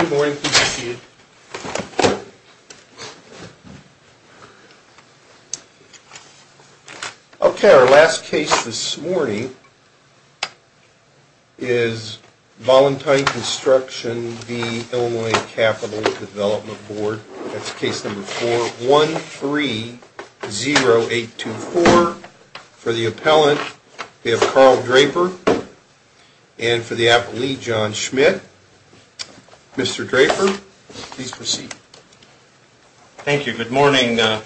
Okay, our last case this morning is Vollintine Construction v. Illinois Capital Development Board, that's case number 4-130824. For the appellant, we have Carl Draper and for the appellee, John Schmidt. Mr. Draper, please proceed. Thank you. Good morning, your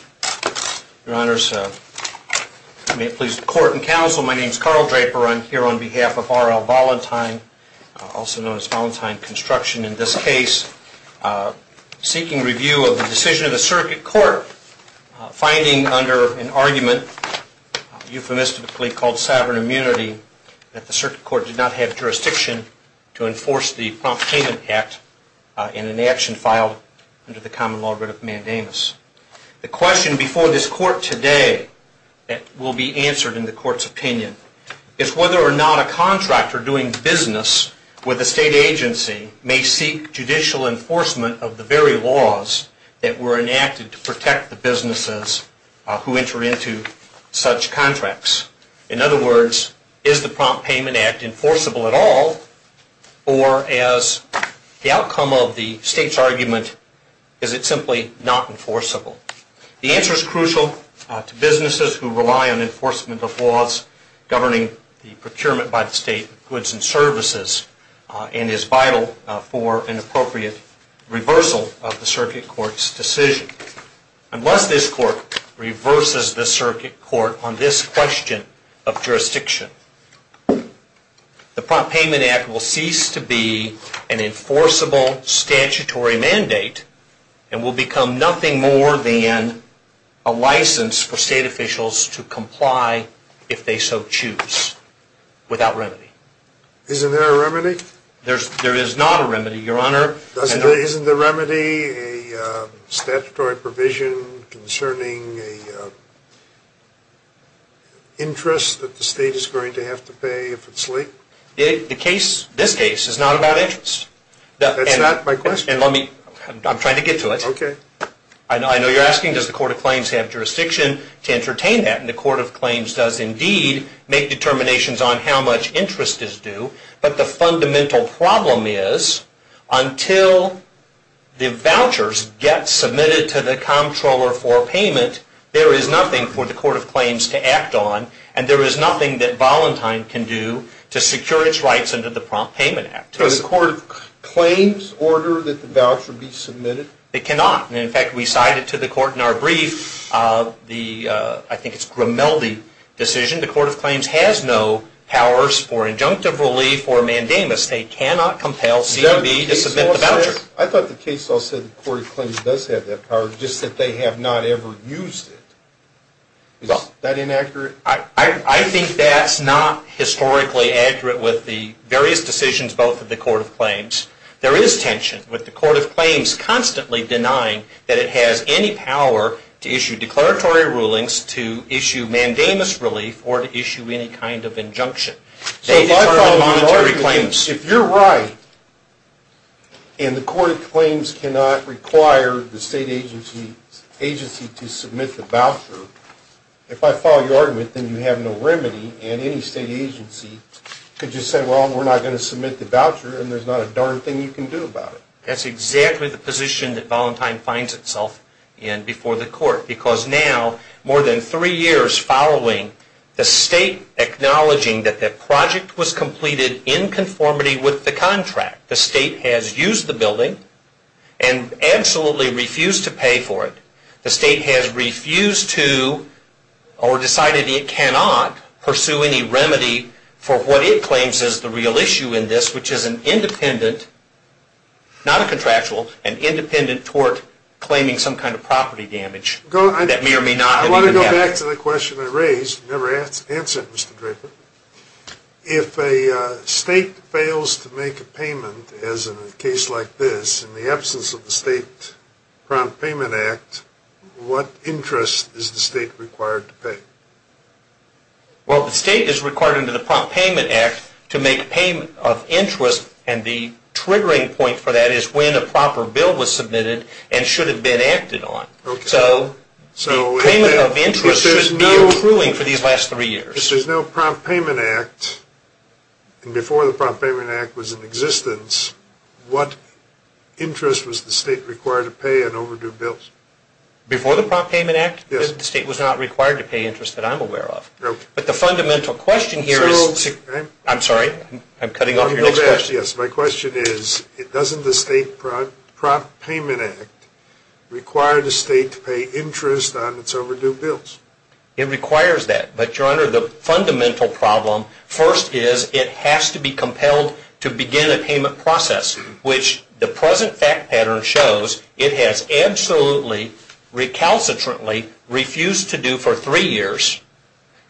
honors. May it please the court and counsel, my name is Carl Draper. I'm here on behalf of R.L. Vollintine, also known as Vollintine Construction in this case, seeking review of the decision of the circuit court, finding under an argument, euphemistically called sovereign immunity, that the circuit court did not have jurisdiction to enforce the Prompt Payment Act in an action filed under the common law writ of mandamus. The question before this court today that will be answered in the court's opinion is whether or not a contractor doing business with a state agency may seek judicial enforcement of the very laws that were enacted to protect the businesses who enter into such contracts. In other words, is the Prompt Payment Act enforceable at all or as the outcome of the state's argument, is it simply not enforceable? The answer is crucial to businesses who rely on enforcement of laws governing the procurement by the state of goods and services and is vital for an appropriate reversal of the circuit court's decision. Unless this court reverses the circuit court on this question of jurisdiction, the Prompt Payment Act will cease to be an enforceable statutory mandate and will become nothing more than a license for state officials to comply if they so choose without remedy. Isn't there a remedy? There is not a remedy, your honor. Isn't there a remedy, a statutory provision concerning an interest that the state is going to have to pay if it's late? This case is not about interest. That's not my question. I'm trying to get to it. Okay. I know you're asking, does the Court of Claims have jurisdiction to entertain that? And the Court of Claims does indeed make determinations on how much interest is due. But the fundamental problem is until the vouchers get submitted to the comptroller for payment, there is nothing for the Court of Claims to act on and there is nothing that Volentine can do to secure its rights under the Prompt Payment Act. Does the Court of Claims order that the voucher be submitted? It cannot. In fact, we cited to the Court in our brief the, I think it's Grimaldi decision, the Court of Claims has no powers for injunctive relief or mandamus. They cannot compel C&B to submit the voucher. I thought the case also said the Court of Claims does have that power, just that they have not ever used it. Is that inaccurate? I think that's not historically accurate with the various decisions both of the Court of Claims. There is tension with the Court of Claims constantly denying that it has any power to issue declaratory rulings, to issue mandamus relief, or to issue any kind of injunction. So if I follow your argument, if you're right and the Court of Claims cannot require the state agency to submit the voucher, if I follow your argument, then you have no remedy and any state agency could just say, well, we're not going to submit the voucher and there's not a darn thing you can do about it. That's exactly the position that Valentine finds itself in before the Court because now, more than three years following, the state acknowledging that the project was completed in conformity with the contract. The state has used the building and absolutely refused to pay for it. The state has refused to or decided it cannot pursue any remedy for what it claims is the real issue in this, which is an independent, not a contractual, an independent tort claiming some kind of property damage that may or may not have even happened. I want to go back to the question I raised. You never answered it, Mr. Draper. If a state fails to make a payment, as in a case like this, in the absence of the State Prompt Payment Act, what interest is the state required to pay? Well, the state is required under the Prompt Payment Act to make payment of interest, and the triggering point for that is when a proper bill was submitted and should have been acted on. So payment of interest should be accruing for these last three years. If there's no Prompt Payment Act, and before the Prompt Payment Act was in existence, what interest was the state required to pay on overdue bills? Before the Prompt Payment Act? Yes. The state was not required to pay interest that I'm aware of. No. But the fundamental question here is to… So… I'm sorry. I'm cutting off your next question. Yes, my question is, doesn't the State Prompt Payment Act require the state to pay interest on its overdue bills? It requires that. But, Your Honor, the fundamental problem first is it has to be compelled to begin a payment process, which the present fact pattern shows it has absolutely, recalcitrantly, refused to do for three years,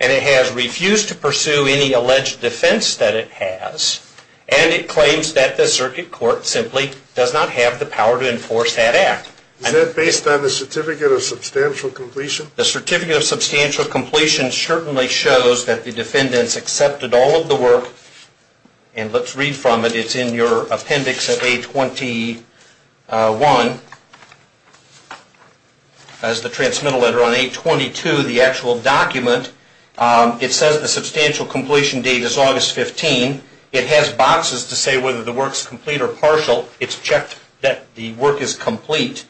and it has refused to pursue any alleged defense that it has, and it claims that the circuit court simply does not have the power to enforce that act. Is that based on the Certificate of Substantial Completion? The Certificate of Substantial Completion certainly shows that the defendants accepted all of the work, and let's read from it. It's in your appendix of A21. As the transmittal letter on A22, the actual document, it says the substantial completion date is August 15. It has boxes to say whether the work is complete or partial. It's checked that the work is complete.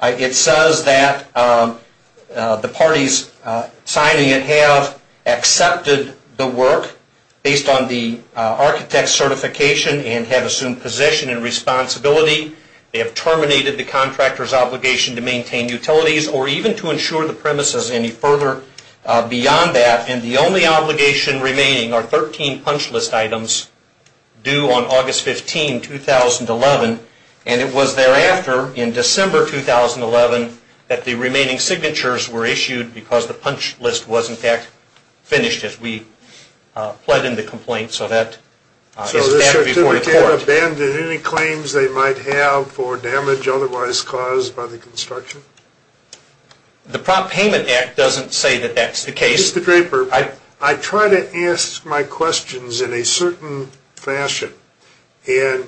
It says that the parties signing it have accepted the work based on the architect's certification and have assumed position and responsibility. They have terminated the contractor's obligation to maintain utilities or even to insure the premises any further beyond that, and the only obligation remaining are 13 punch list items due on August 15, 2011, and it was thereafter in December 2011 that the remaining signatures were issued because the punch list was, in fact, finished as we pled in the complaint. So that is back before the court. So the certificate abandoned any claims they might have for damage otherwise caused by the construction? The Prop Payment Act doesn't say that that's the case. Mr. Draper, I try to ask my questions in a certain fashion, and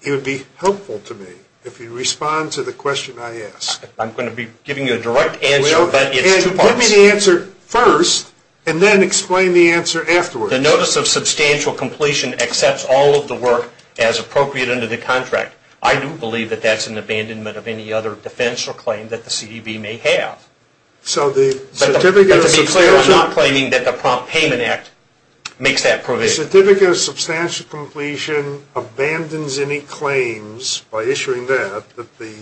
it would be helpful to me if you'd respond to the question I ask. I'm going to be giving you a direct answer, but it's two parts. Give me the answer first and then explain the answer afterwards. The notice of substantial completion accepts all of the work as appropriate under the contract. I do believe that that's an abandonment of any other defense or claim that the CDB may have. So the certificate of substantial? I'm not claiming that the Prop Payment Act makes that provision. The certificate of substantial completion abandons any claims by issuing that that the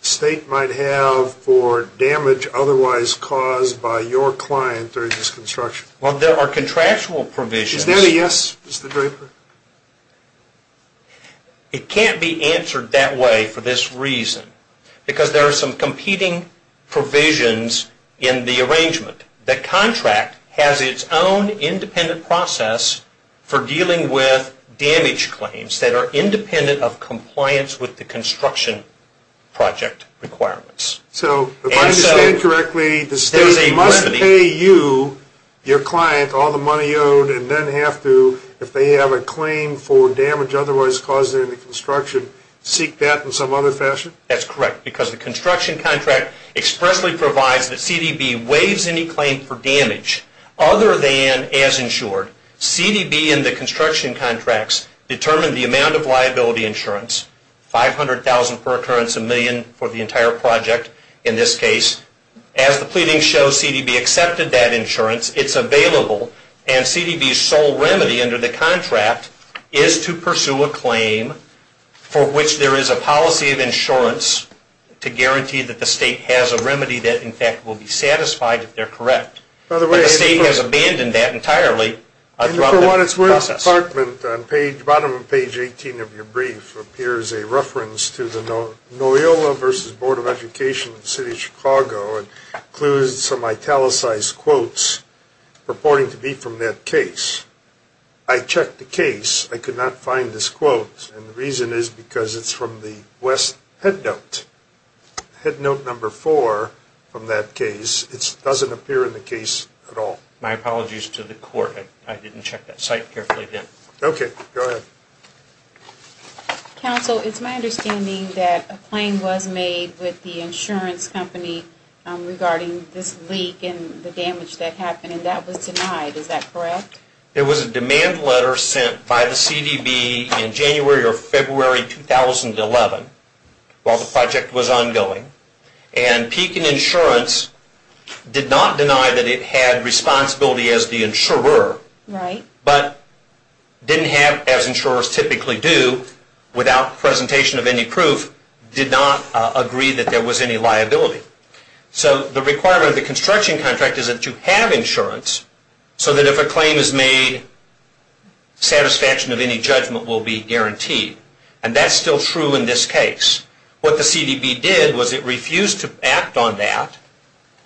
state might have for damage otherwise caused by your client during this construction? Well, there are contractual provisions. Is that a yes, Mr. Draper? It can't be answered that way for this reason because there are some competing provisions in the arrangement. The contract has its own independent process for dealing with damage claims that are independent of compliance with the construction project requirements. So if I understand correctly, the state must pay you, your client, all the money owed and then have to, if they have a claim for damage otherwise caused in the construction, seek that in some other fashion? That's correct because the construction contract expressly provides that CDB waives any claim for damage other than as insured. CDB and the construction contracts determine the amount of liability insurance, $500,000 per occurrence, a million for the entire project in this case. As the pleading shows, CDB accepted that insurance. It's available and CDB's sole remedy under the contract is to pursue a claim for which there is a policy of insurance to guarantee that the state has a remedy that, in fact, will be satisfied if they're correct. The state has abandoned that entirely throughout the process. For what it's worth, in the bottom of page 18 of your brief appears a reference to the NOILA versus Board of Education of the City of Chicago and includes some italicized quotes purporting to be from that case. I checked the case. I could not find this quote, and the reason is because it's from the west headnote, headnote number four from that case. It doesn't appear in the case at all. My apologies to the court. I didn't check that site carefully then. Okay. Go ahead. Counsel, it's my understanding that a claim was made with the insurance company regarding this leak and the damage that happened, and that was denied. Is that correct? There was a demand letter sent by the CDB in January or February 2011 while the project was ongoing, and Pekin Insurance did not deny that it had responsibility as the insurer but didn't have, as insurers typically do, without presentation of any proof, did not agree that there was any liability. So the requirement of the construction contract is that you have insurance so that if a claim is made, satisfaction of any judgment will be guaranteed, and that's still true in this case. What the CDB did was it refused to act on that,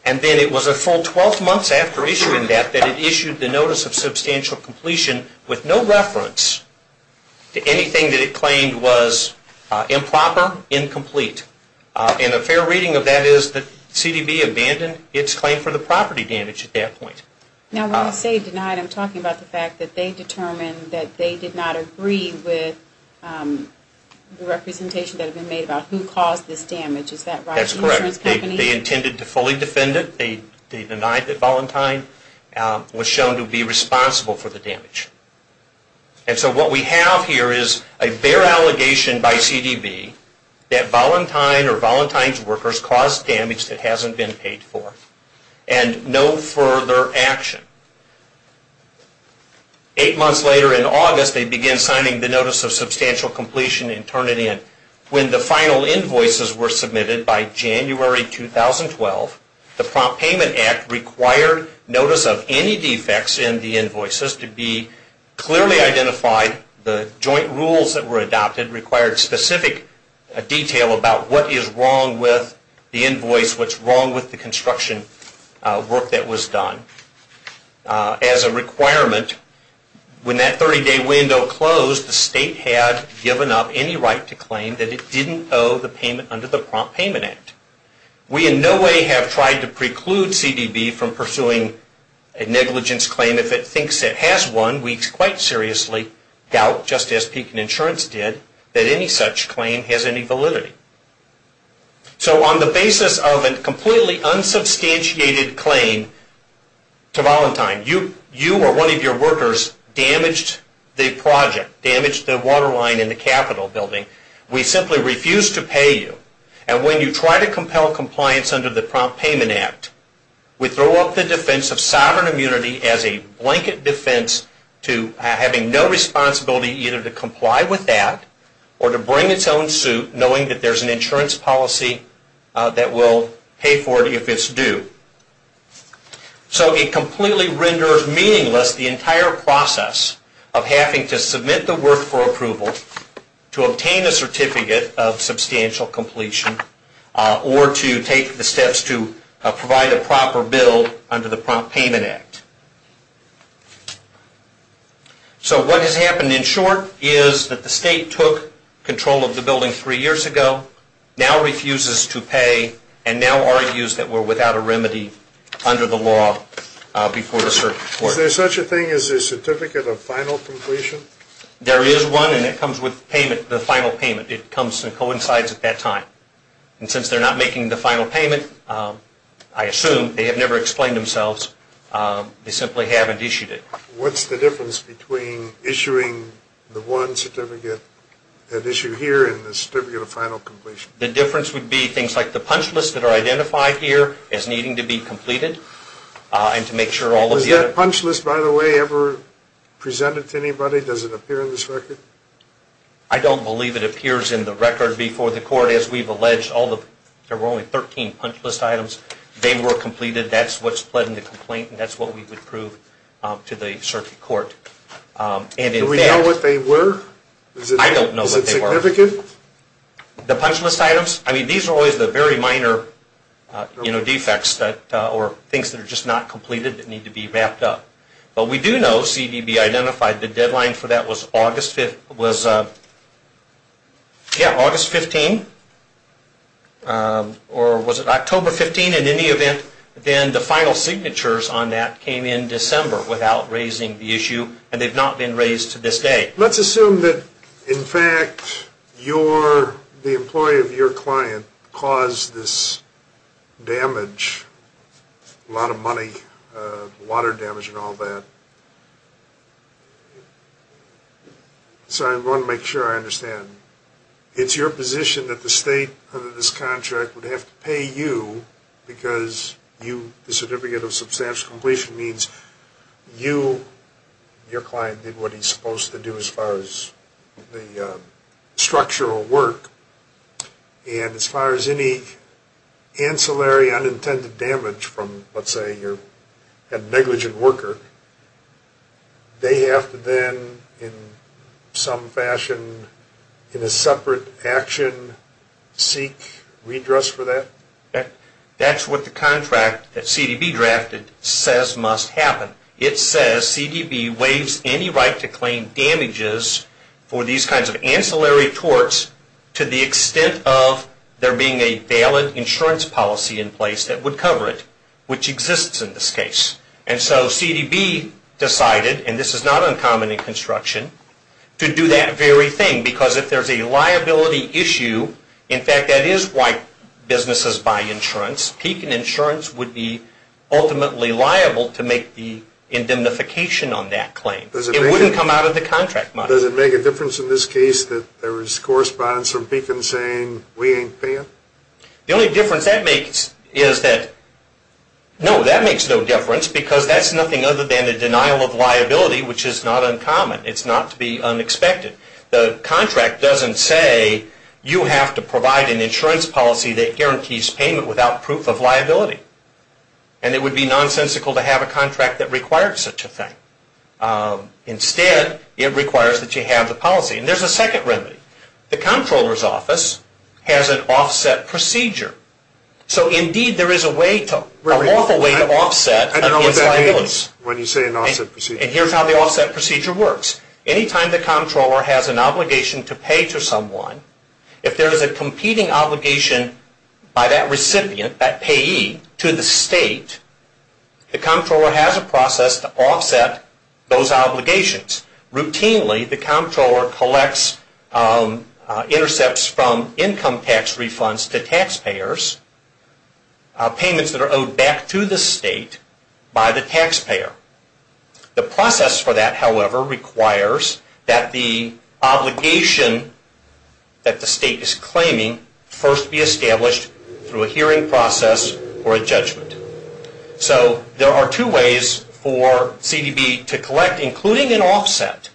and then it was a full 12 months after issuing that that it issued the notice of substantial completion with no reference to anything that it claimed was improper, incomplete, and a fair reading of that is the CDB abandoned its claim for the property damage at that point. Now when you say denied, I'm talking about the fact that they determined that they did not agree with the representation that had been made about who caused this damage. Is that right? The insurance company? That's correct. They intended to fully defend it. They denied that Voluntine was shown to be responsible for the damage. And so what we have here is a fair allegation by CDB that Voluntine or Voluntine's workers caused damage that hasn't been paid for and no further action. Eight months later in August, they began signing the notice of substantial completion and turned it in. When the final invoices were submitted by January 2012, the Prompt Payment Act required notice of any defects in the invoices to be clearly identified. The joint rules that were adopted required specific detail about what is wrong with the invoice, what's wrong with the construction work that was done. As a requirement, when that 30-day window closed, the state had given up any right to claim that it didn't owe the payment under the Prompt Payment Act. We in no way have tried to preclude CDB from pursuing a negligence claim. If it thinks it has one, we quite seriously doubt, just as Pekin Insurance did, that any such claim has any validity. So on the basis of a completely unsubstantiated claim to Voluntine, you or one of your workers damaged the project, damaged the water line in the Capitol building. We simply refuse to pay you. And when you try to compel compliance under the Prompt Payment Act, we throw up the defense of sovereign immunity as a blanket defense to having no responsibility either to comply with that or to bring its own suit knowing that there's an insurance policy that will pay for it if it's due. So it completely renders meaningless the entire process of having to submit the work for approval, to obtain a certificate of substantial completion, or to take the steps to provide a proper bill under the Prompt Payment Act. So what has happened in short is that the state took control of the building three years ago, now refuses to pay, and now argues that we're without a remedy under the law before the circuit court. Is there such a thing as a certificate of final completion? There is one, and it comes with payment, the final payment. It comes and coincides at that time. And since they're not making the final payment, I assume, they have never explained themselves. They simply haven't issued it. What's the difference between issuing the one certificate at issue here and the certificate of final completion? The difference would be things like the punch list that are identified here as needing to be completed and to make sure all of the other... Was that punch list, by the way, ever presented to anybody? Does it appear in this record? I don't believe it appears in the record. Before the court, as we've alleged, there were only 13 punch list items. They were completed. That's what's pled in the complaint, and that's what we would prove to the circuit court. Do we know what they were? I don't know what they were. Is it significant? The punch list items? I mean, these are always the very minor defects or things that are just not completed that need to be wrapped up. But we do know CDB identified the deadline for that was August 15, or was it October 15? In any event, then the final signatures on that came in December without raising the issue, and they've not been raised to this day. Let's assume that, in fact, the employee of your client caused this damage, a lot of money, water damage and all that. So I want to make sure I understand. It's your position that the state under this contract would have to pay you because the certificate of substantial completion means you, your client, did what he's supposed to do as far as the structural work. And as far as any ancillary unintended damage from, let's say, a negligent worker, they have to then, in some fashion, in a separate action seek redress for that? That's what the contract that CDB drafted says must happen. It says CDB waives any right to claim damages for these kinds of ancillary torts to the extent of there being a valid insurance policy in place that would cover it, which exists in this case. And so CDB decided, and this is not uncommon in construction, to do that very thing because if there's a liability issue, in fact, that is why businesses buy insurance, Pekin Insurance would be ultimately liable to make the indemnification on that claim. It wouldn't come out of the contract money. Now, does it make a difference in this case that there is correspondence from Pekin saying we ain't paying? The only difference that makes is that, no, that makes no difference because that's nothing other than a denial of liability, which is not uncommon. It's not to be unexpected. The contract doesn't say you have to provide an insurance policy that guarantees payment without proof of liability, and it would be nonsensical to have a contract that requires such a thing. Instead, it requires that you have the policy. And there's a second remedy. The comptroller's office has an offset procedure. So, indeed, there is a way to, a lawful way to offset. I don't know what that means when you say an offset procedure. And here's how the offset procedure works. Anytime the comptroller has an obligation to pay to someone, if there is a competing obligation by that recipient, that payee, to the state, the comptroller has a process to offset those obligations. Routinely, the comptroller collects, intercepts from income tax refunds to taxpayers payments that are owed back to the state by the taxpayer. The process for that, however, requires that the obligation that the state is claiming first be established through a hearing process or a judgment. So there are two ways for CDB to collect, including an offset.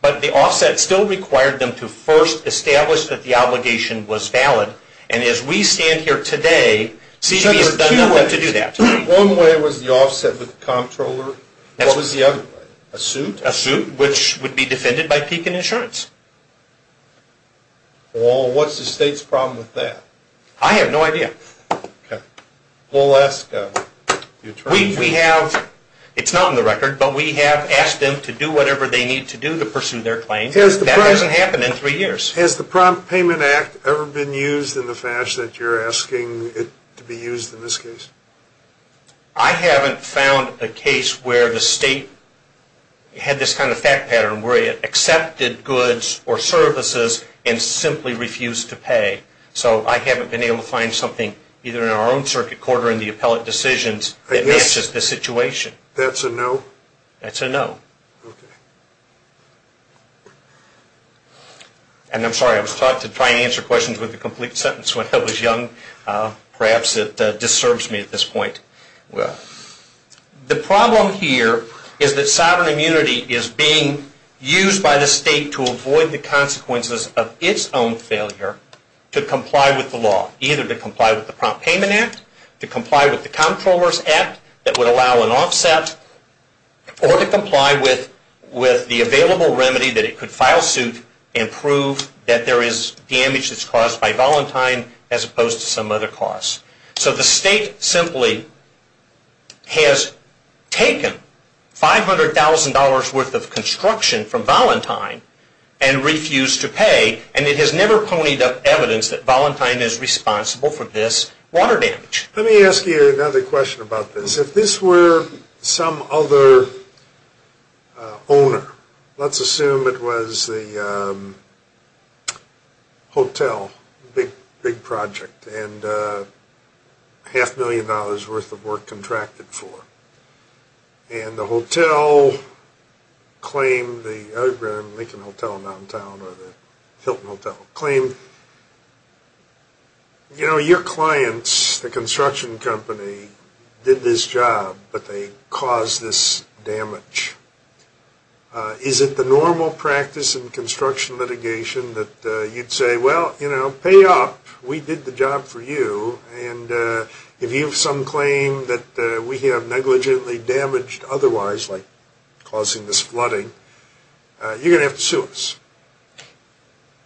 But the offset still required them to first establish that the obligation was valid. And as we stand here today, CDB has done nothing to do that. One way was the offset with the comptroller. What was the other way? A suit? A suit, which would be defended by Pekin Insurance. Well, what's the state's problem with that? I have no idea. Okay. We'll ask the attorney. We have, it's not on the record, but we have asked them to do whatever they need to do to pursue their claim. That hasn't happened in three years. Has the Prompt Payment Act ever been used in the fashion that you're asking it to be used in this case? I haven't found a case where the state had this kind of fact pattern where it accepted goods or services and simply refused to pay. So I haven't been able to find something either in our own circuit court or in the appellate decisions that matches the situation. That's a no? That's a no. Okay. And I'm sorry, I was taught to try and answer questions with a complete sentence when I was young. Perhaps it disturbs me at this point. The problem here is that sovereign immunity is being used by the state to avoid the consequences of its own failure to comply with the law, either to comply with the Prompt Payment Act, to comply with the Comptroller's Act that would allow an offset, or to comply with the available remedy that it could file suit and prove that there is damage that's caused by Valentine as opposed to some other cause. So the state simply has taken $500,000 worth of construction from Valentine and refused to pay, and it has never ponied up evidence that Valentine is responsible for this water damage. Let me ask you another question about this. If this were some other owner, let's assume it was the hotel, big project, and half a million dollars worth of work contracted for. And the hotel claimed, the Lincoln Hotel in downtown, or the Hilton Hotel, claimed, you know, your clients, the construction company, did this job, but they caused this damage. Is it the normal practice in construction litigation that you'd say, well, you know, pay up. We did the job for you, and if you have some claim that we have negligently damaged otherwise, like causing this flooding, you're going to have to sue us.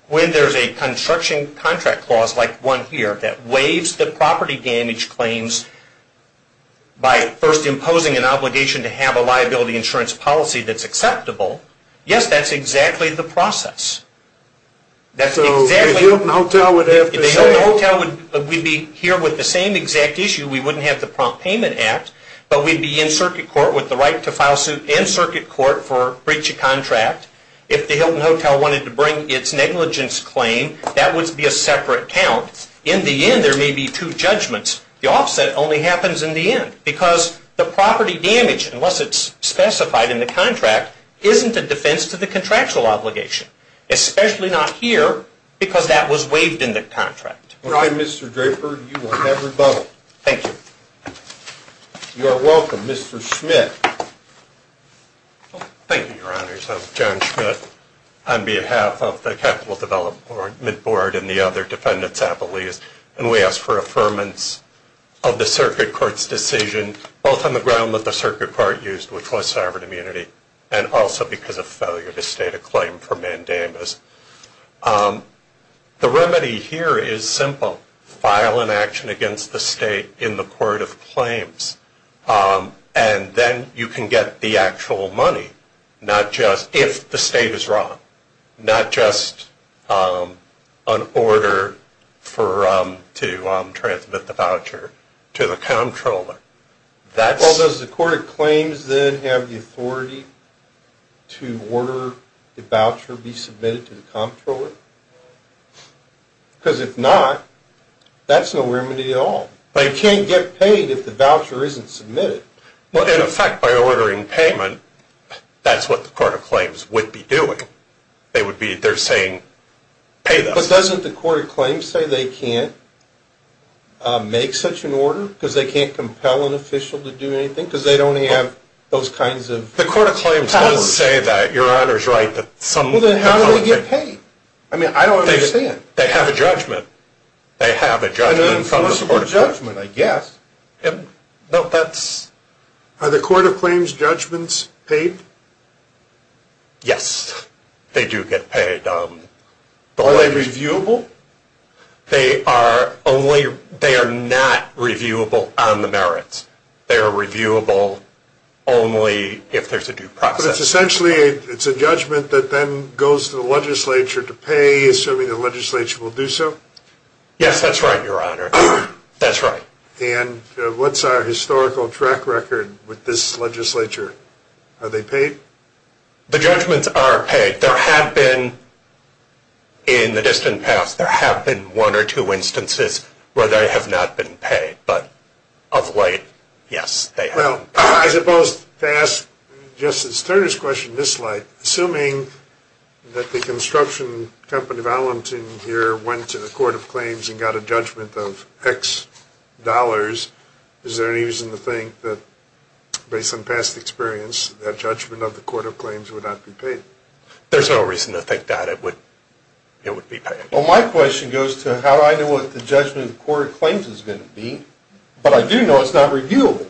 When there's a construction contract clause like one here that waives the property damage claims by first imposing an obligation to have a liability insurance policy that's acceptable, yes, that's exactly the process. So the Hilton Hotel would have to sue? The Hilton Hotel would be here with the same exact issue. We wouldn't have to prompt payment act, but we'd be in circuit court with the right to file suit in circuit court for breach of contract. If the Hilton Hotel wanted to bring its negligence claim, that would be a separate count. In the end, there may be two judgments. The offset only happens in the end because the property damage, unless it's specified in the contract, isn't a defense to the contractual obligation. Especially not here because that was waived in the contract. All right, Mr. Draper. You will have rebuttal. Thank you. You are welcome. Mr. Schmidt. Thank you, Your Honors. I'm John Schmidt on behalf of the Capital Development Board and the other defendants, I believe, and we ask for affirmance of the circuit court's decision, both on the ground that the circuit court used, which was sovereign immunity, and also because of failure to state a claim for mandamus. The remedy here is simple. File an action against the state in the court of claims, and then you can get the actual money, not just if the state is wrong, not just an order to transmit the voucher to the comptroller. Well, does the court of claims then have the authority to order the voucher be submitted to the comptroller? Because if not, that's no remedy at all. They can't get paid if the voucher isn't submitted. Well, in effect, by ordering payment, that's what the court of claims would be doing. They would be, they're saying, pay them. But doesn't the court of claims say they can't make such an order? Because they can't compel an official to do anything? Because they'd only have those kinds of powers. The court of claims does say that, Your Honors, right, that some... Well, then how do they get paid? I mean, I don't understand. They have a judgment. They have a judgment from the court of claims. An infallible judgment, I guess. No, that's... Are the court of claims judgments paid? Yes, they do get paid. Are they reviewable? They are not reviewable on the merits. They are reviewable only if there's a due process. But it's essentially, it's a judgment that then goes to the legislature to pay, assuming the legislature will do so? Yes, that's right, Your Honor. That's right. And what's our historical track record with this legislature? Are they paid? The judgments are paid. There have been, in the distant past, there have been one or two instances where they have not been paid. But of late, yes, they have. Well, I suppose to ask Justice Turner's question in this light, assuming that the construction company of Allentown here went to the court of claims and got a judgment of X dollars, is there any reason to think that, based on past experience, that judgment of the court of claims would not be paid? There's no reason to think that it would be paid. Well, my question goes to how do I know what the judgment of the court of claims is going to be? But I do know it's not reviewable.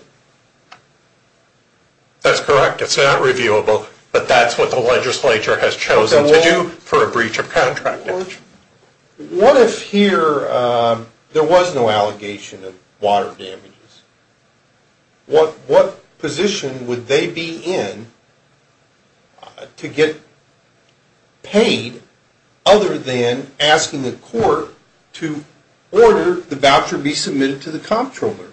That's correct. It's not reviewable, but that's what the legislature has chosen to do for a breach of contract. What if here there was no allegation of water damages? What position would they be in to get paid, other than asking the court to order the voucher be submitted to the comptroller?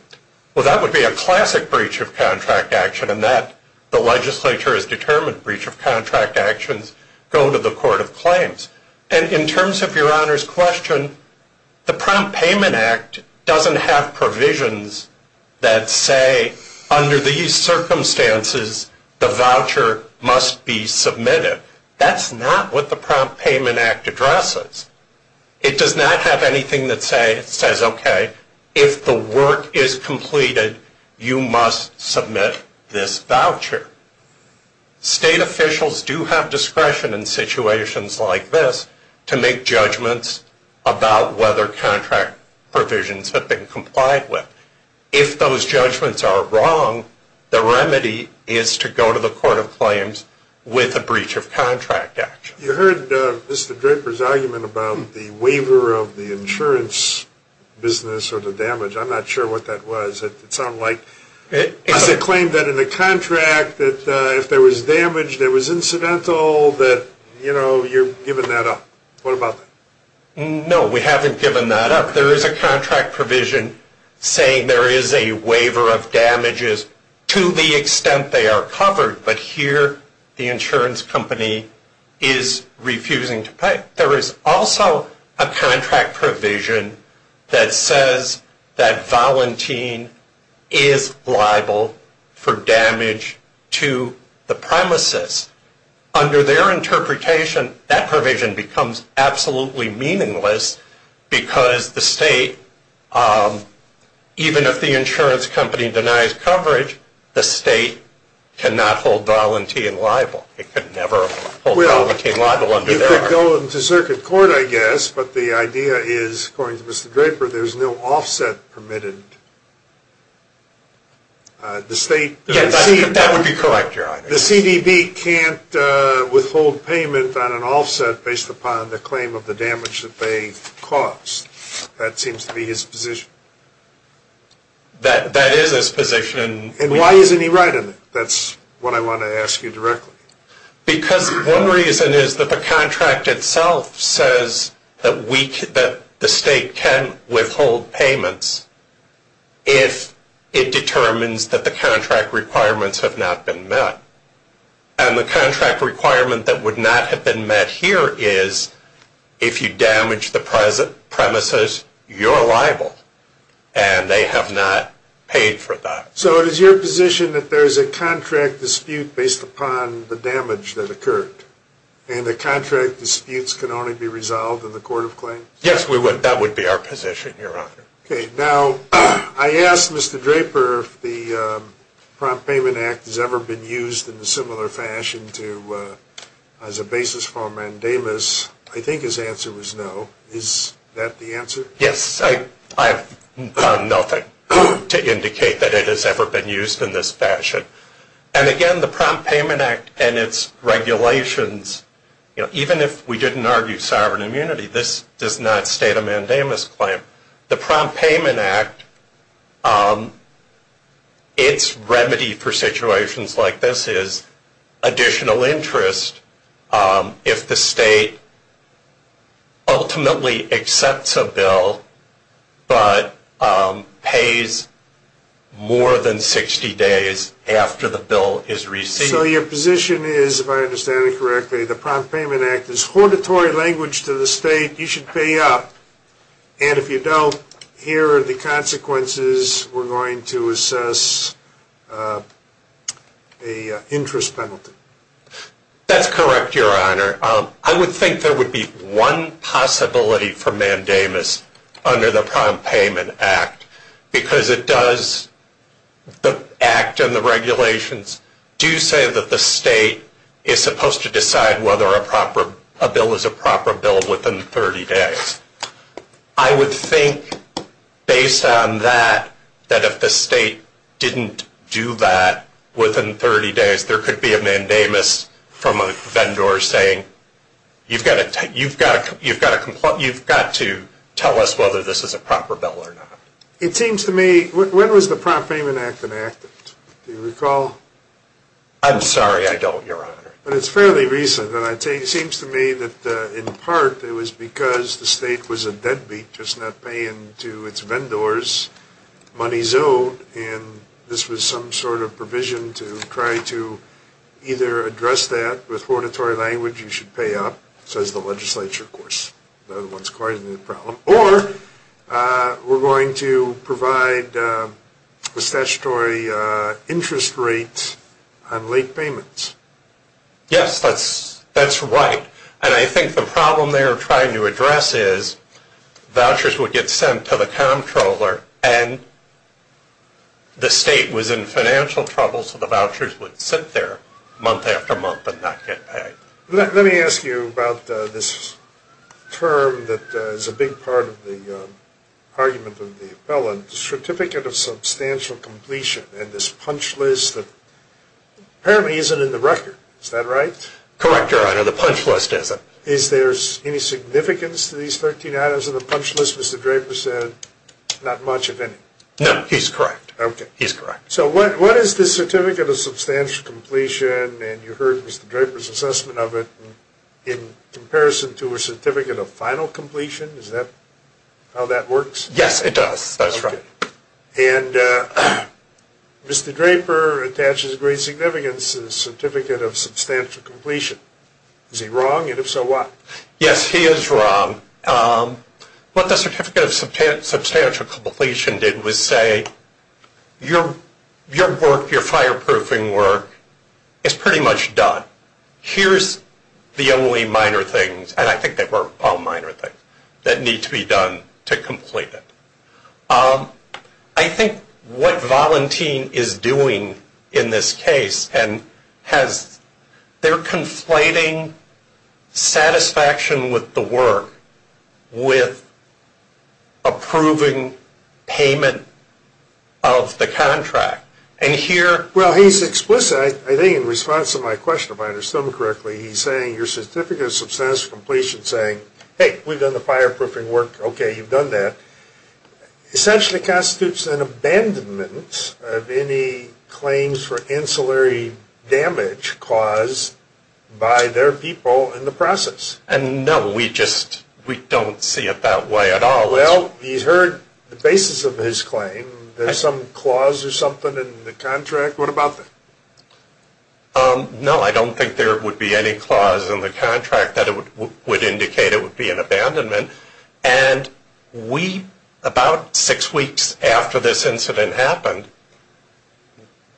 Well, that would be a classic breach of contract action, and the legislature has determined breach of contract actions go to the court of claims. And in terms of Your Honor's question, the Prompt Payment Act doesn't have provisions that say, under these circumstances, the voucher must be submitted. That's not what the Prompt Payment Act addresses. It does not have anything that says, okay, if the work is completed, you must submit this voucher. State officials do have discretion in situations like this to make judgments about whether contract provisions have been complied with. If those judgments are wrong, the remedy is to go to the court of claims with a breach of contract action. You heard Mr. Draper's argument about the waiver of the insurance business or the damage. I'm not sure what that was. It sounded like it was a claim that in the contract, that if there was damage that was incidental, that, you know, you're giving that up. What about that? No. We haven't given that up. There is a contract provision saying there is a waiver of damages to the extent they are covered. But here the insurance company is refusing to pay. There is also a contract provision that says that Valentin is liable for damage to the premises. Under their interpretation, that provision becomes absolutely meaningless because the state, even if the insurance company denies coverage, the state cannot hold Valentin liable. It could never hold Valentin liable. You could go to circuit court, I guess, but the idea is, according to Mr. Draper, there is no offset permitted. That would be correct, Your Honor. The CDB can't withhold payment on an offset based upon the claim of the damage that they caused. That seems to be his position. That is his position. And why isn't he right in it? That's what I want to ask you directly. Because one reason is that the contract itself says that we, that the state can withhold payments if it determines that the contract requirements have not been met. And the contract requirement that would not have been met here is, if you damage the premises, you're liable, and they have not paid for that. So it is your position that there is a contract dispute based upon the damage that occurred, and the contract disputes can only be resolved in the court of claims? Yes, that would be our position, Your Honor. Okay. Now, I asked Mr. Draper if the Prompt Payment Act has ever been used in a similar fashion as a basis for a mandamus. I think his answer was no. Is that the answer? Yes, I have done nothing to indicate that it has ever been used in this fashion. And, again, the Prompt Payment Act and its regulations, even if we didn't argue sovereign immunity, this does not state a mandamus claim. The Prompt Payment Act, its remedy for situations like this is additional interest if the state ultimately accepts a bill but pays more than 60 days after the bill is received. So your position is, if I understand it correctly, the Prompt Payment Act is hortatory language to the state. You should pay up. And if you don't, here are the consequences. We're going to assess an interest penalty. That's correct, Your Honor. I would think there would be one possibility for mandamus under the Prompt Payment Act because it does, the act and the regulations do say that the state is supposed to decide whether a bill is a proper bill within 30 days. I would think, based on that, that if the state didn't do that within 30 days, there could be a mandamus from a vendor saying, you've got to tell us whether this is a proper bill or not. It seems to me, when was the Prompt Payment Act enacted? Do you recall? I'm sorry, I don't, Your Honor. But it's fairly recent. It seems to me that, in part, it was because the state was a deadbeat just not paying to its vendors money zoned, and this was some sort of provision to try to either address that with hortatory language, you should pay up, says the legislature, of course. The other one is quite a new problem. Or we're going to provide a statutory interest rate on late payments. Yes, that's right. And I think the problem they are trying to address is vouchers would get sent to the comptroller and the state was in financial trouble, so the vouchers would sit there month after month and not get paid. Let me ask you about this term that is a big part of the argument of the appellant, the Certificate of Substantial Completion, and this punch list that apparently isn't in the record. Is that right? Correct, Your Honor. The punch list isn't. Is there any significance to these 13 items in the punch list, as Mr. Draper said, not much, if any? No, he's correct. Okay. He's correct. So what is the Certificate of Substantial Completion, and you heard Mr. Draper's assessment of it, in comparison to a Certificate of Final Completion? Is that how that works? Yes, it does. That's right. And Mr. Draper attaches great significance to the Certificate of Substantial Completion. Is he wrong, and if so, why? Yes, he is wrong. What the Certificate of Substantial Completion did was say, your work, your fireproofing work, is pretty much done. Here's the only minor things, and I think they were all minor things, that need to be done to complete it. I think what Valentin is doing in this case, and they're conflating satisfaction with the work with approving payment of the contract. Well, he's explicit, I think, in response to my question, if I understood him correctly. He's saying your Certificate of Substantial Completion is saying, hey, we've done the fireproofing work, okay, you've done that, essentially constitutes an abandonment of any claims for ancillary damage caused by their people in the process. No, we just don't see it that way at all. Well, he's heard the basis of his claim. There's some clause or something in the contract. What about that? No, I don't think there would be any clause in the contract that would indicate it would be an abandonment. And we, about six weeks after this incident happened,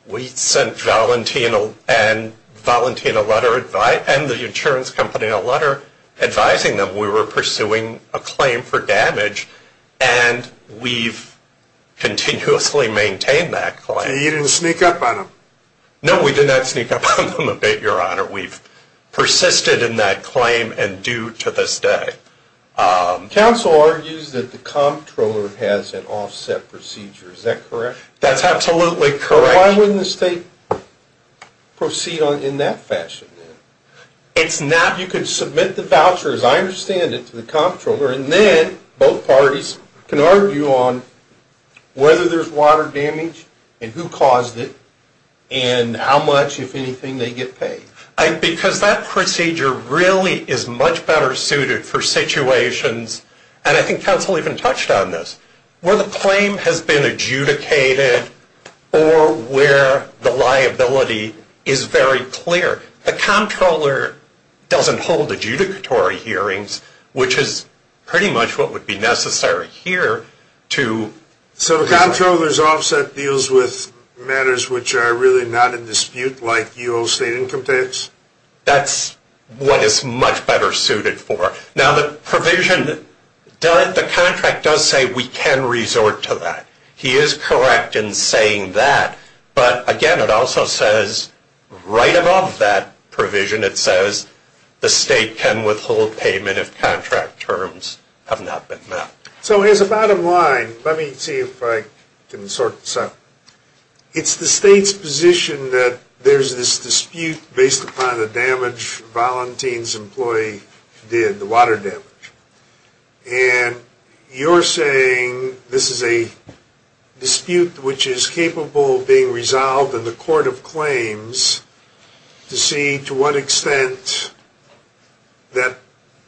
we sent Valentin and the insurance company a letter advising them we were pursuing a claim for damage, and we've continuously maintained that claim. So you didn't sneak up on them? No, we did not sneak up on them a bit, Your Honor. We've persisted in that claim and do to this day. Counsel argues that the comptroller has an offset procedure. Is that correct? That's absolutely correct. Why wouldn't the state proceed in that fashion then? It's not. You could submit the voucher, as I understand it, to the comptroller, and then both parties can argue on whether there's water damage and who Because that procedure really is much better suited for situations, and I think counsel even touched on this, where the claim has been adjudicated or where the liability is very clear. The comptroller doesn't hold adjudicatory hearings, which is pretty much what would be necessary here to. So the comptroller's offset deals with matters which are really not in That's what is much better suited for. Now, the provision, the contract does say we can resort to that. He is correct in saying that. But, again, it also says right above that provision it says the state can withhold payment if contract terms have not been met. So as a bottom line, let me see if I can sort this out. It's the state's position that there's this dispute based upon the damage Valentin's employee did, the water damage. And you're saying this is a dispute which is capable of being resolved in the court of claims to see to what extent that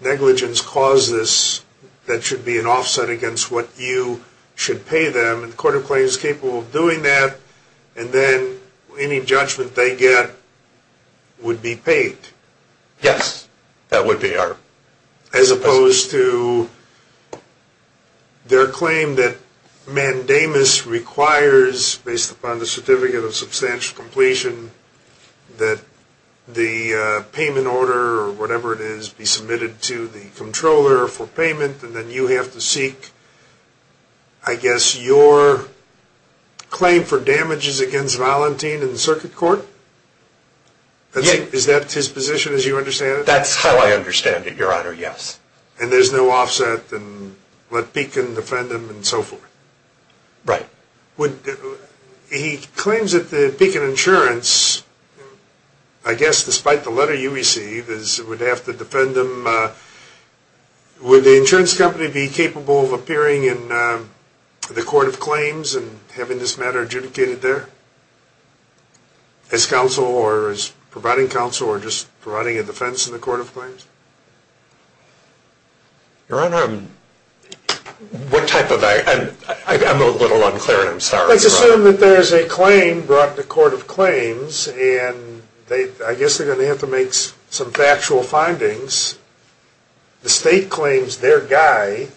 negligence causes this, that should be an offset against what you should pay them. And the court of claims is capable of doing that. And then any judgment they get would be paid. Yes, that would be. As opposed to their claim that mandamus requires, based upon the certificate of substantial completion, that the payment order or whatever it is be submitted to the controller for claim for damages against Valentin in the circuit court? Is that his position as you understand it? That's how I understand it, Your Honor, yes. And there's no offset and let Beacon defend him and so forth? Right. He claims that the Beacon Insurance, I guess despite the letter you receive, would have to defend him. Would the insurance company be capable of appearing in the court of claims and having this matter adjudicated there? As counsel or as providing counsel or just providing a defense in the court of claims? Your Honor, what type of act? I'm a little unclear and I'm sorry. I guess they're going to have to make some factual findings. The state claims their guy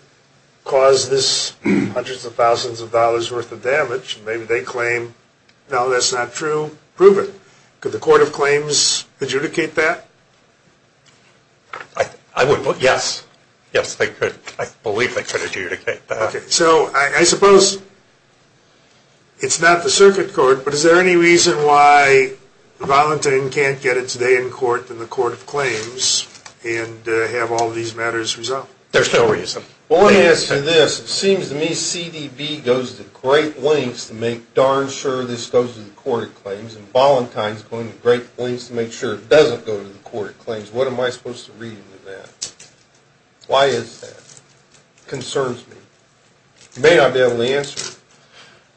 caused this hundreds of thousands of dollars worth of damage. Maybe they claim, no, that's not true. Prove it. Could the court of claims adjudicate that? I would. Yes. Yes, I believe they could adjudicate that. Okay, so I suppose it's not the circuit court, but is there any reason why the volunteer can't get its day in court in the court of claims and have all these matters resolved? There's no reason. Well, let me answer this. It seems to me CDB goes to great lengths to make darn sure this goes to the court of claims and Voluntine's going to great lengths to make sure it doesn't go to the court of claims. What am I supposed to read into that? Why is that? That concerns me. You may not be able to answer it.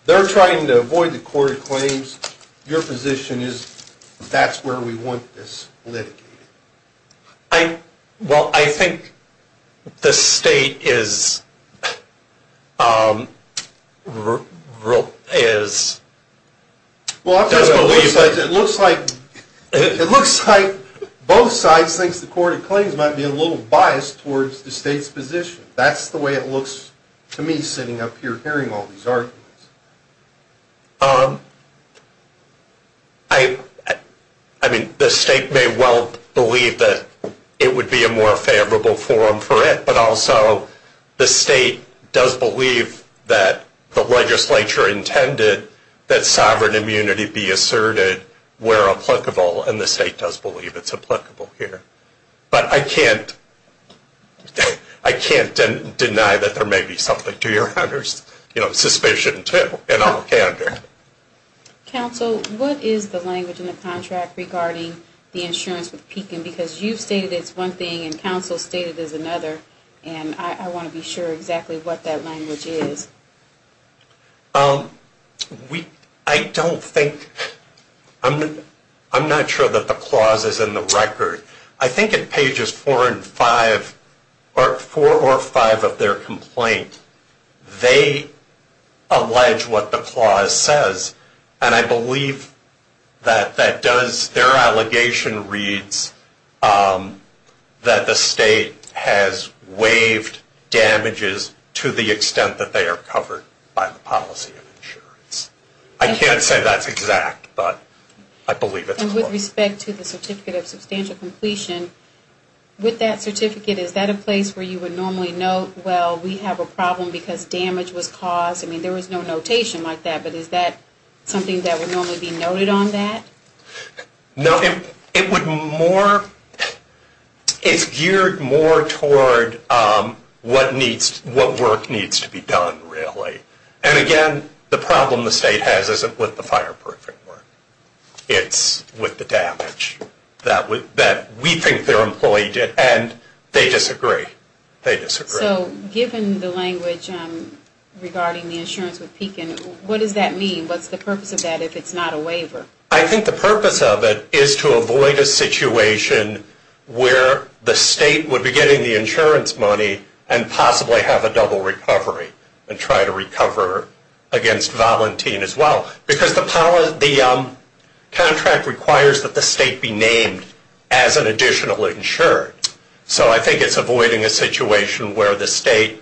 They're trying to avoid the court of claims. Your position is that's where we want this litigated. Well, I think the state is disbelieving. It looks like both sides think the court of claims might be a little biased towards the state's position. That's the way it looks to me sitting up here hearing all these arguments. The state may well believe that it would be a more favorable forum for it, but also the state does believe that the legislature intended that sovereign immunity be asserted where applicable, and the state does believe it's applicable here. But I can't deny that there may be something to your suspicion, too, in all candor. Counsel, what is the language in the contract regarding the insurance with Pekin? Because you've stated it's one thing and counsel's stated it's another, and I want to be sure exactly what that language is. I don't think, I'm not sure that the clause is in the record. I think in pages 4 and 5, or 4 or 5 of their complaint, they allege what the clause says, and I believe that their allegation reads that the state has waived damages to the extent that they are covered by the policy of insurance. I can't say that's exact, but I believe it's close. And with respect to the certificate of substantial completion, with that certificate, is that a place where you would normally note, well, we have a problem because damage was caused? I mean, there was no notation like that, but is that something that would normally be noted on that? No, it would more, it's geared more toward what needs, what work needs to be done, really. And again, the problem the state has isn't with the fireproofing work. It's with the damage that we think their employee did, and they disagree. So, given the language regarding the insurance with Pekin, what does that mean? What's the purpose of that if it's not a waiver? I think the purpose of it is to avoid a situation where the state would be getting the insurance money and possibly have a double recovery and try to recover against Valentin as well. Because the contract requires that the state be named as an additional insured. So, I think it's avoiding a situation where the state,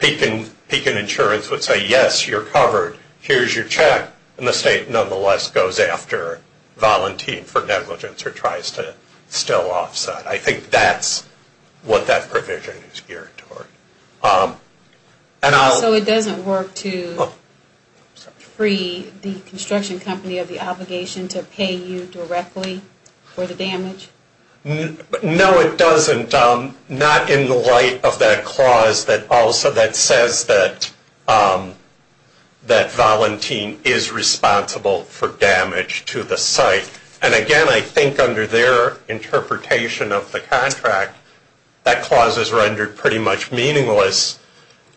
Pekin Insurance would say, yes, you're covered, here's your check. And the state, nonetheless, goes after Valentin for negligence or tries to still offset. I think that's what that provision is geared toward. So, it doesn't work to free the construction company of the obligation to pay you directly for the damage? No, it doesn't. Not in the light of that clause that says that Valentin is responsible for damage to the site. And again, I think under their interpretation of the contract, that clause is rendered pretty much meaningless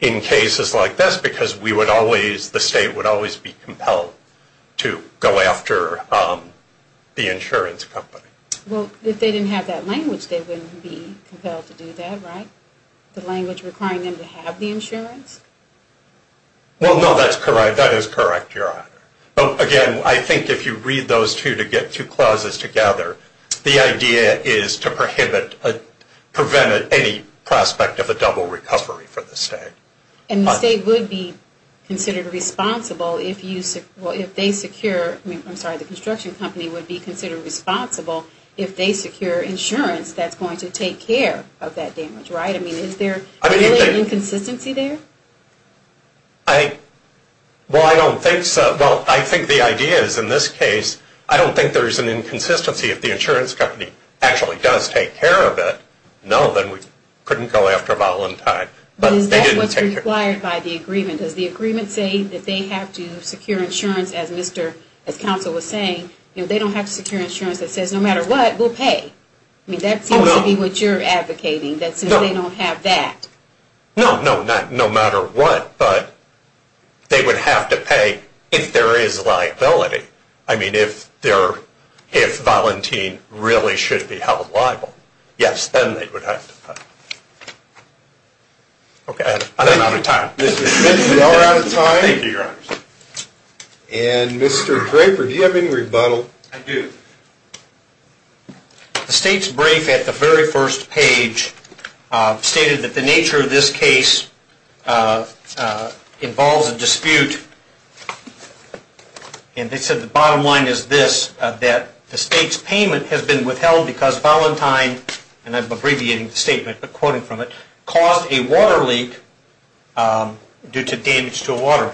in cases like this because the state would always be compelled to go after the insurance company. Well, if they didn't have that language, they wouldn't be compelled to do that, right? The language requiring them to have the insurance? Well, no, that is correct, Your Honor. Again, I think if you read those two clauses together, the idea is to prevent any prospect of a double recovery for the state. And the state would be considered responsible if they secure, I'm sorry, the construction company would be considered responsible if they secure insurance that's going to take care of that damage, right? I mean, is there really an inconsistency there? Well, I don't think so. Well, I think the idea is, in this case, I don't think there's an inconsistency if the insurance company actually does take care of it. No, then we couldn't go after Valentin. But is that what's required by the agreement? Does the agreement say that they have to secure insurance, as counsel was saying, they don't have to secure insurance that says no matter what, we'll pay? I mean, that seems to be what you're advocating, that since they don't have that. No, no, not no matter what, but they would have to pay if there is liability. I mean, if Valentin really should be held liable, yes, then they would have to pay. Okay. I'm out of time. Mr. Smith, we are out of time. Thank you, Your Honor. And Mr. Draper, do you have any rebuttal? I do. The state's brief at the very first page stated that the nature of this case involves a dispute, and they said the bottom line is this, that the state's payment has been withheld because Valentin, and I'm abbreviating the statement but quoting from it, caused a water leak due to damage to a water.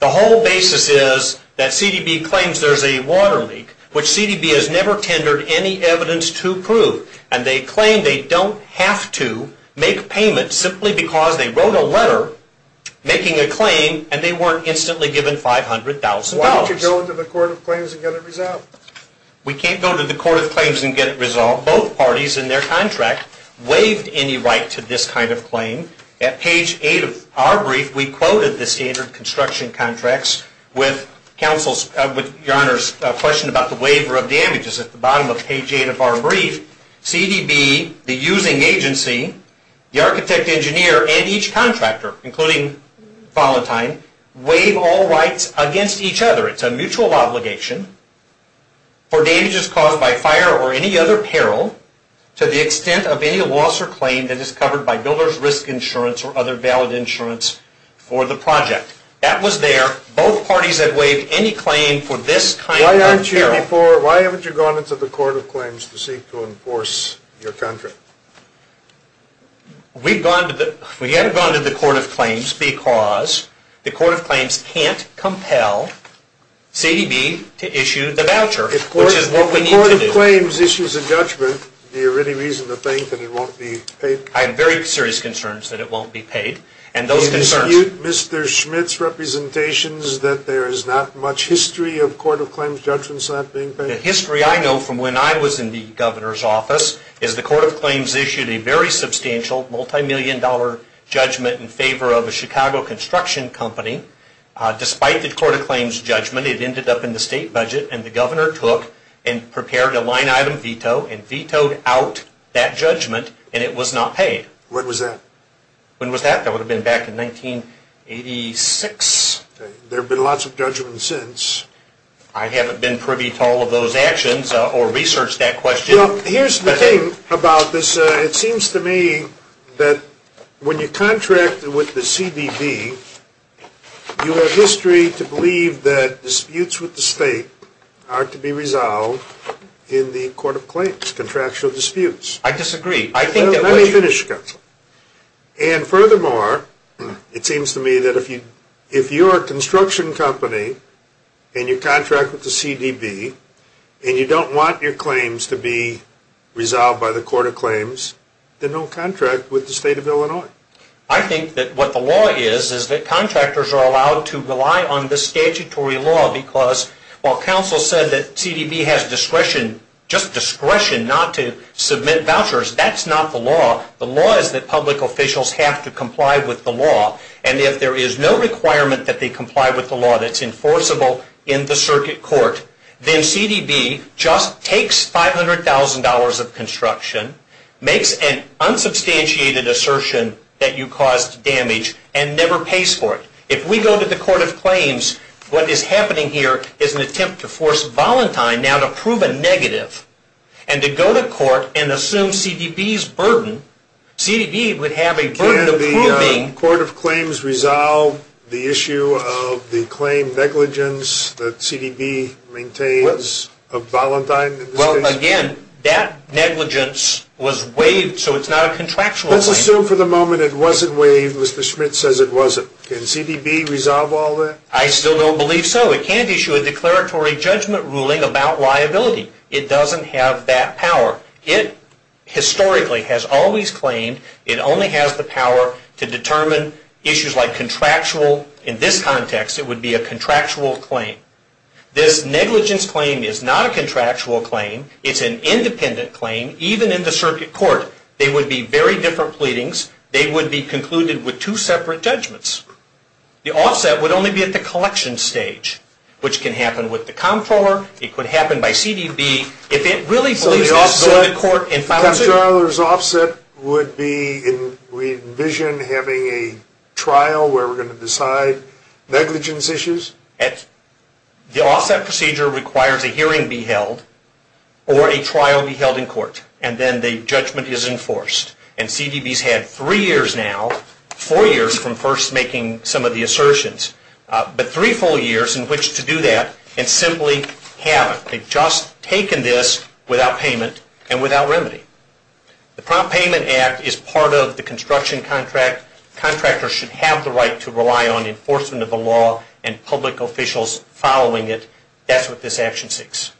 The whole basis is that CDB claims there's a water leak, which CDB has never tendered any evidence to prove, and they claim they don't have to make payments simply because they wrote a letter making a claim and they weren't instantly given $500,000. Why don't you go into the Court of Claims and get it resolved? We can't go to the Court of Claims and get it resolved. Both parties in their contract waived any right to this kind of claim. At page 8 of our brief, we quoted the standard construction contracts with Your Honor's question about the waiver of damages. At the bottom of page 8 of our brief, CDB, the using agency, the architect engineer, and each contractor, including Valentin, waive all rights against each other. It's a mutual obligation for damages caused by fire or any other peril to the extent of any loss or claim that is covered by builder's risk insurance or other valid insurance for the project. That was there. Both parties have waived any claim for this kind of peril. Why haven't you gone into the Court of Claims to seek to enforce your contract? We haven't gone to the Court of Claims because the Court of Claims can't compel CDB to issue the voucher, which is what we need to do. If the Court of Claims issues a judgment, do you have any reason to think that it won't be paid? I have very serious concerns that it won't be paid. And those concerns... Do you dispute Mr. Schmidt's representations that there is not much history of Court of Claims judgments not being paid? The history I know from when I was in the Governor's office is the Court of Claims issued a very substantial, multimillion-dollar judgment in favor of a Chicago construction company. Despite the Court of Claims judgment, it ended up in the state budget, and the Governor took and prepared a line-item veto and vetoed out that judgment, and it was not paid. When was that? When was that? That would have been back in 1986. There have been lots of judgments since. I haven't been privy to all of those actions or researched that question. Here's the thing about this. It seems to me that when you contract with the CDB, you have history to believe that disputes with the state are to be resolved in the Court of Claims, contractual disputes. I disagree. Let me finish, Counselor. And furthermore, it seems to me that if you're a construction company and you contract with the CDB and you don't want your claims to be resolved by the Court of Claims, then don't contract with the State of Illinois. I think that what the law is is that contractors are allowed to rely on this statutory law because, while Counsel said that CDB has discretion, just discretion not to submit vouchers, that's not the law. The law is that public officials have to comply with the law, and if there is no requirement that they comply with the law that's enforceable in the circuit court, then CDB just takes $500,000 of construction, makes an unsubstantiated assertion that you caused damage, and never pays for it. If we go to the Court of Claims, what is happening here is an attempt to force Valentine now to prove a negative and to go to court and assume CDB's burden. CDB would have a burden of proving... Can the Court of Claims resolve the issue of the claim negligence that CDB maintains of Valentine in this case? Well, again, that negligence was waived, so it's not a contractual claim. Let's assume for the moment it wasn't waived. Mr. Schmidt says it wasn't. Can CDB resolve all that? I still don't believe so. It can't issue a declaratory judgment ruling about liability. It doesn't have that power. It historically has always claimed it only has the power to determine issues like contractual... In this context, it would be a contractual claim. This negligence claim is not a contractual claim. It's an independent claim, even in the circuit court. They would be very different pleadings. They would be concluded with two separate judgments. The offset would only be at the collection stage, which can happen with the comptroller. It could happen by CDB. If it really believes this, go to court and file a suit. So the offset would be, we envision, having a trial where we're going to decide negligence issues? The offset procedure requires a hearing be held or a trial be held in court, and then the judgment is enforced. And CDB's had three years now, four years from first making some of the assertions, but three full years in which to do that and simply haven't. They've just taken this without payment and without remedy. The Prompt Payment Act is part of the construction contract. Contractors should have the right to rely on enforcement of the law and public officials following it. That's what this action seeks.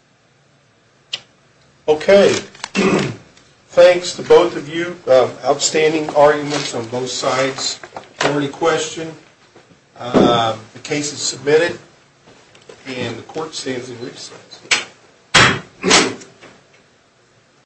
Okay. Thanks to both of you. Outstanding arguments on both sides. If you have any questions, the case is submitted and the court stands in recess.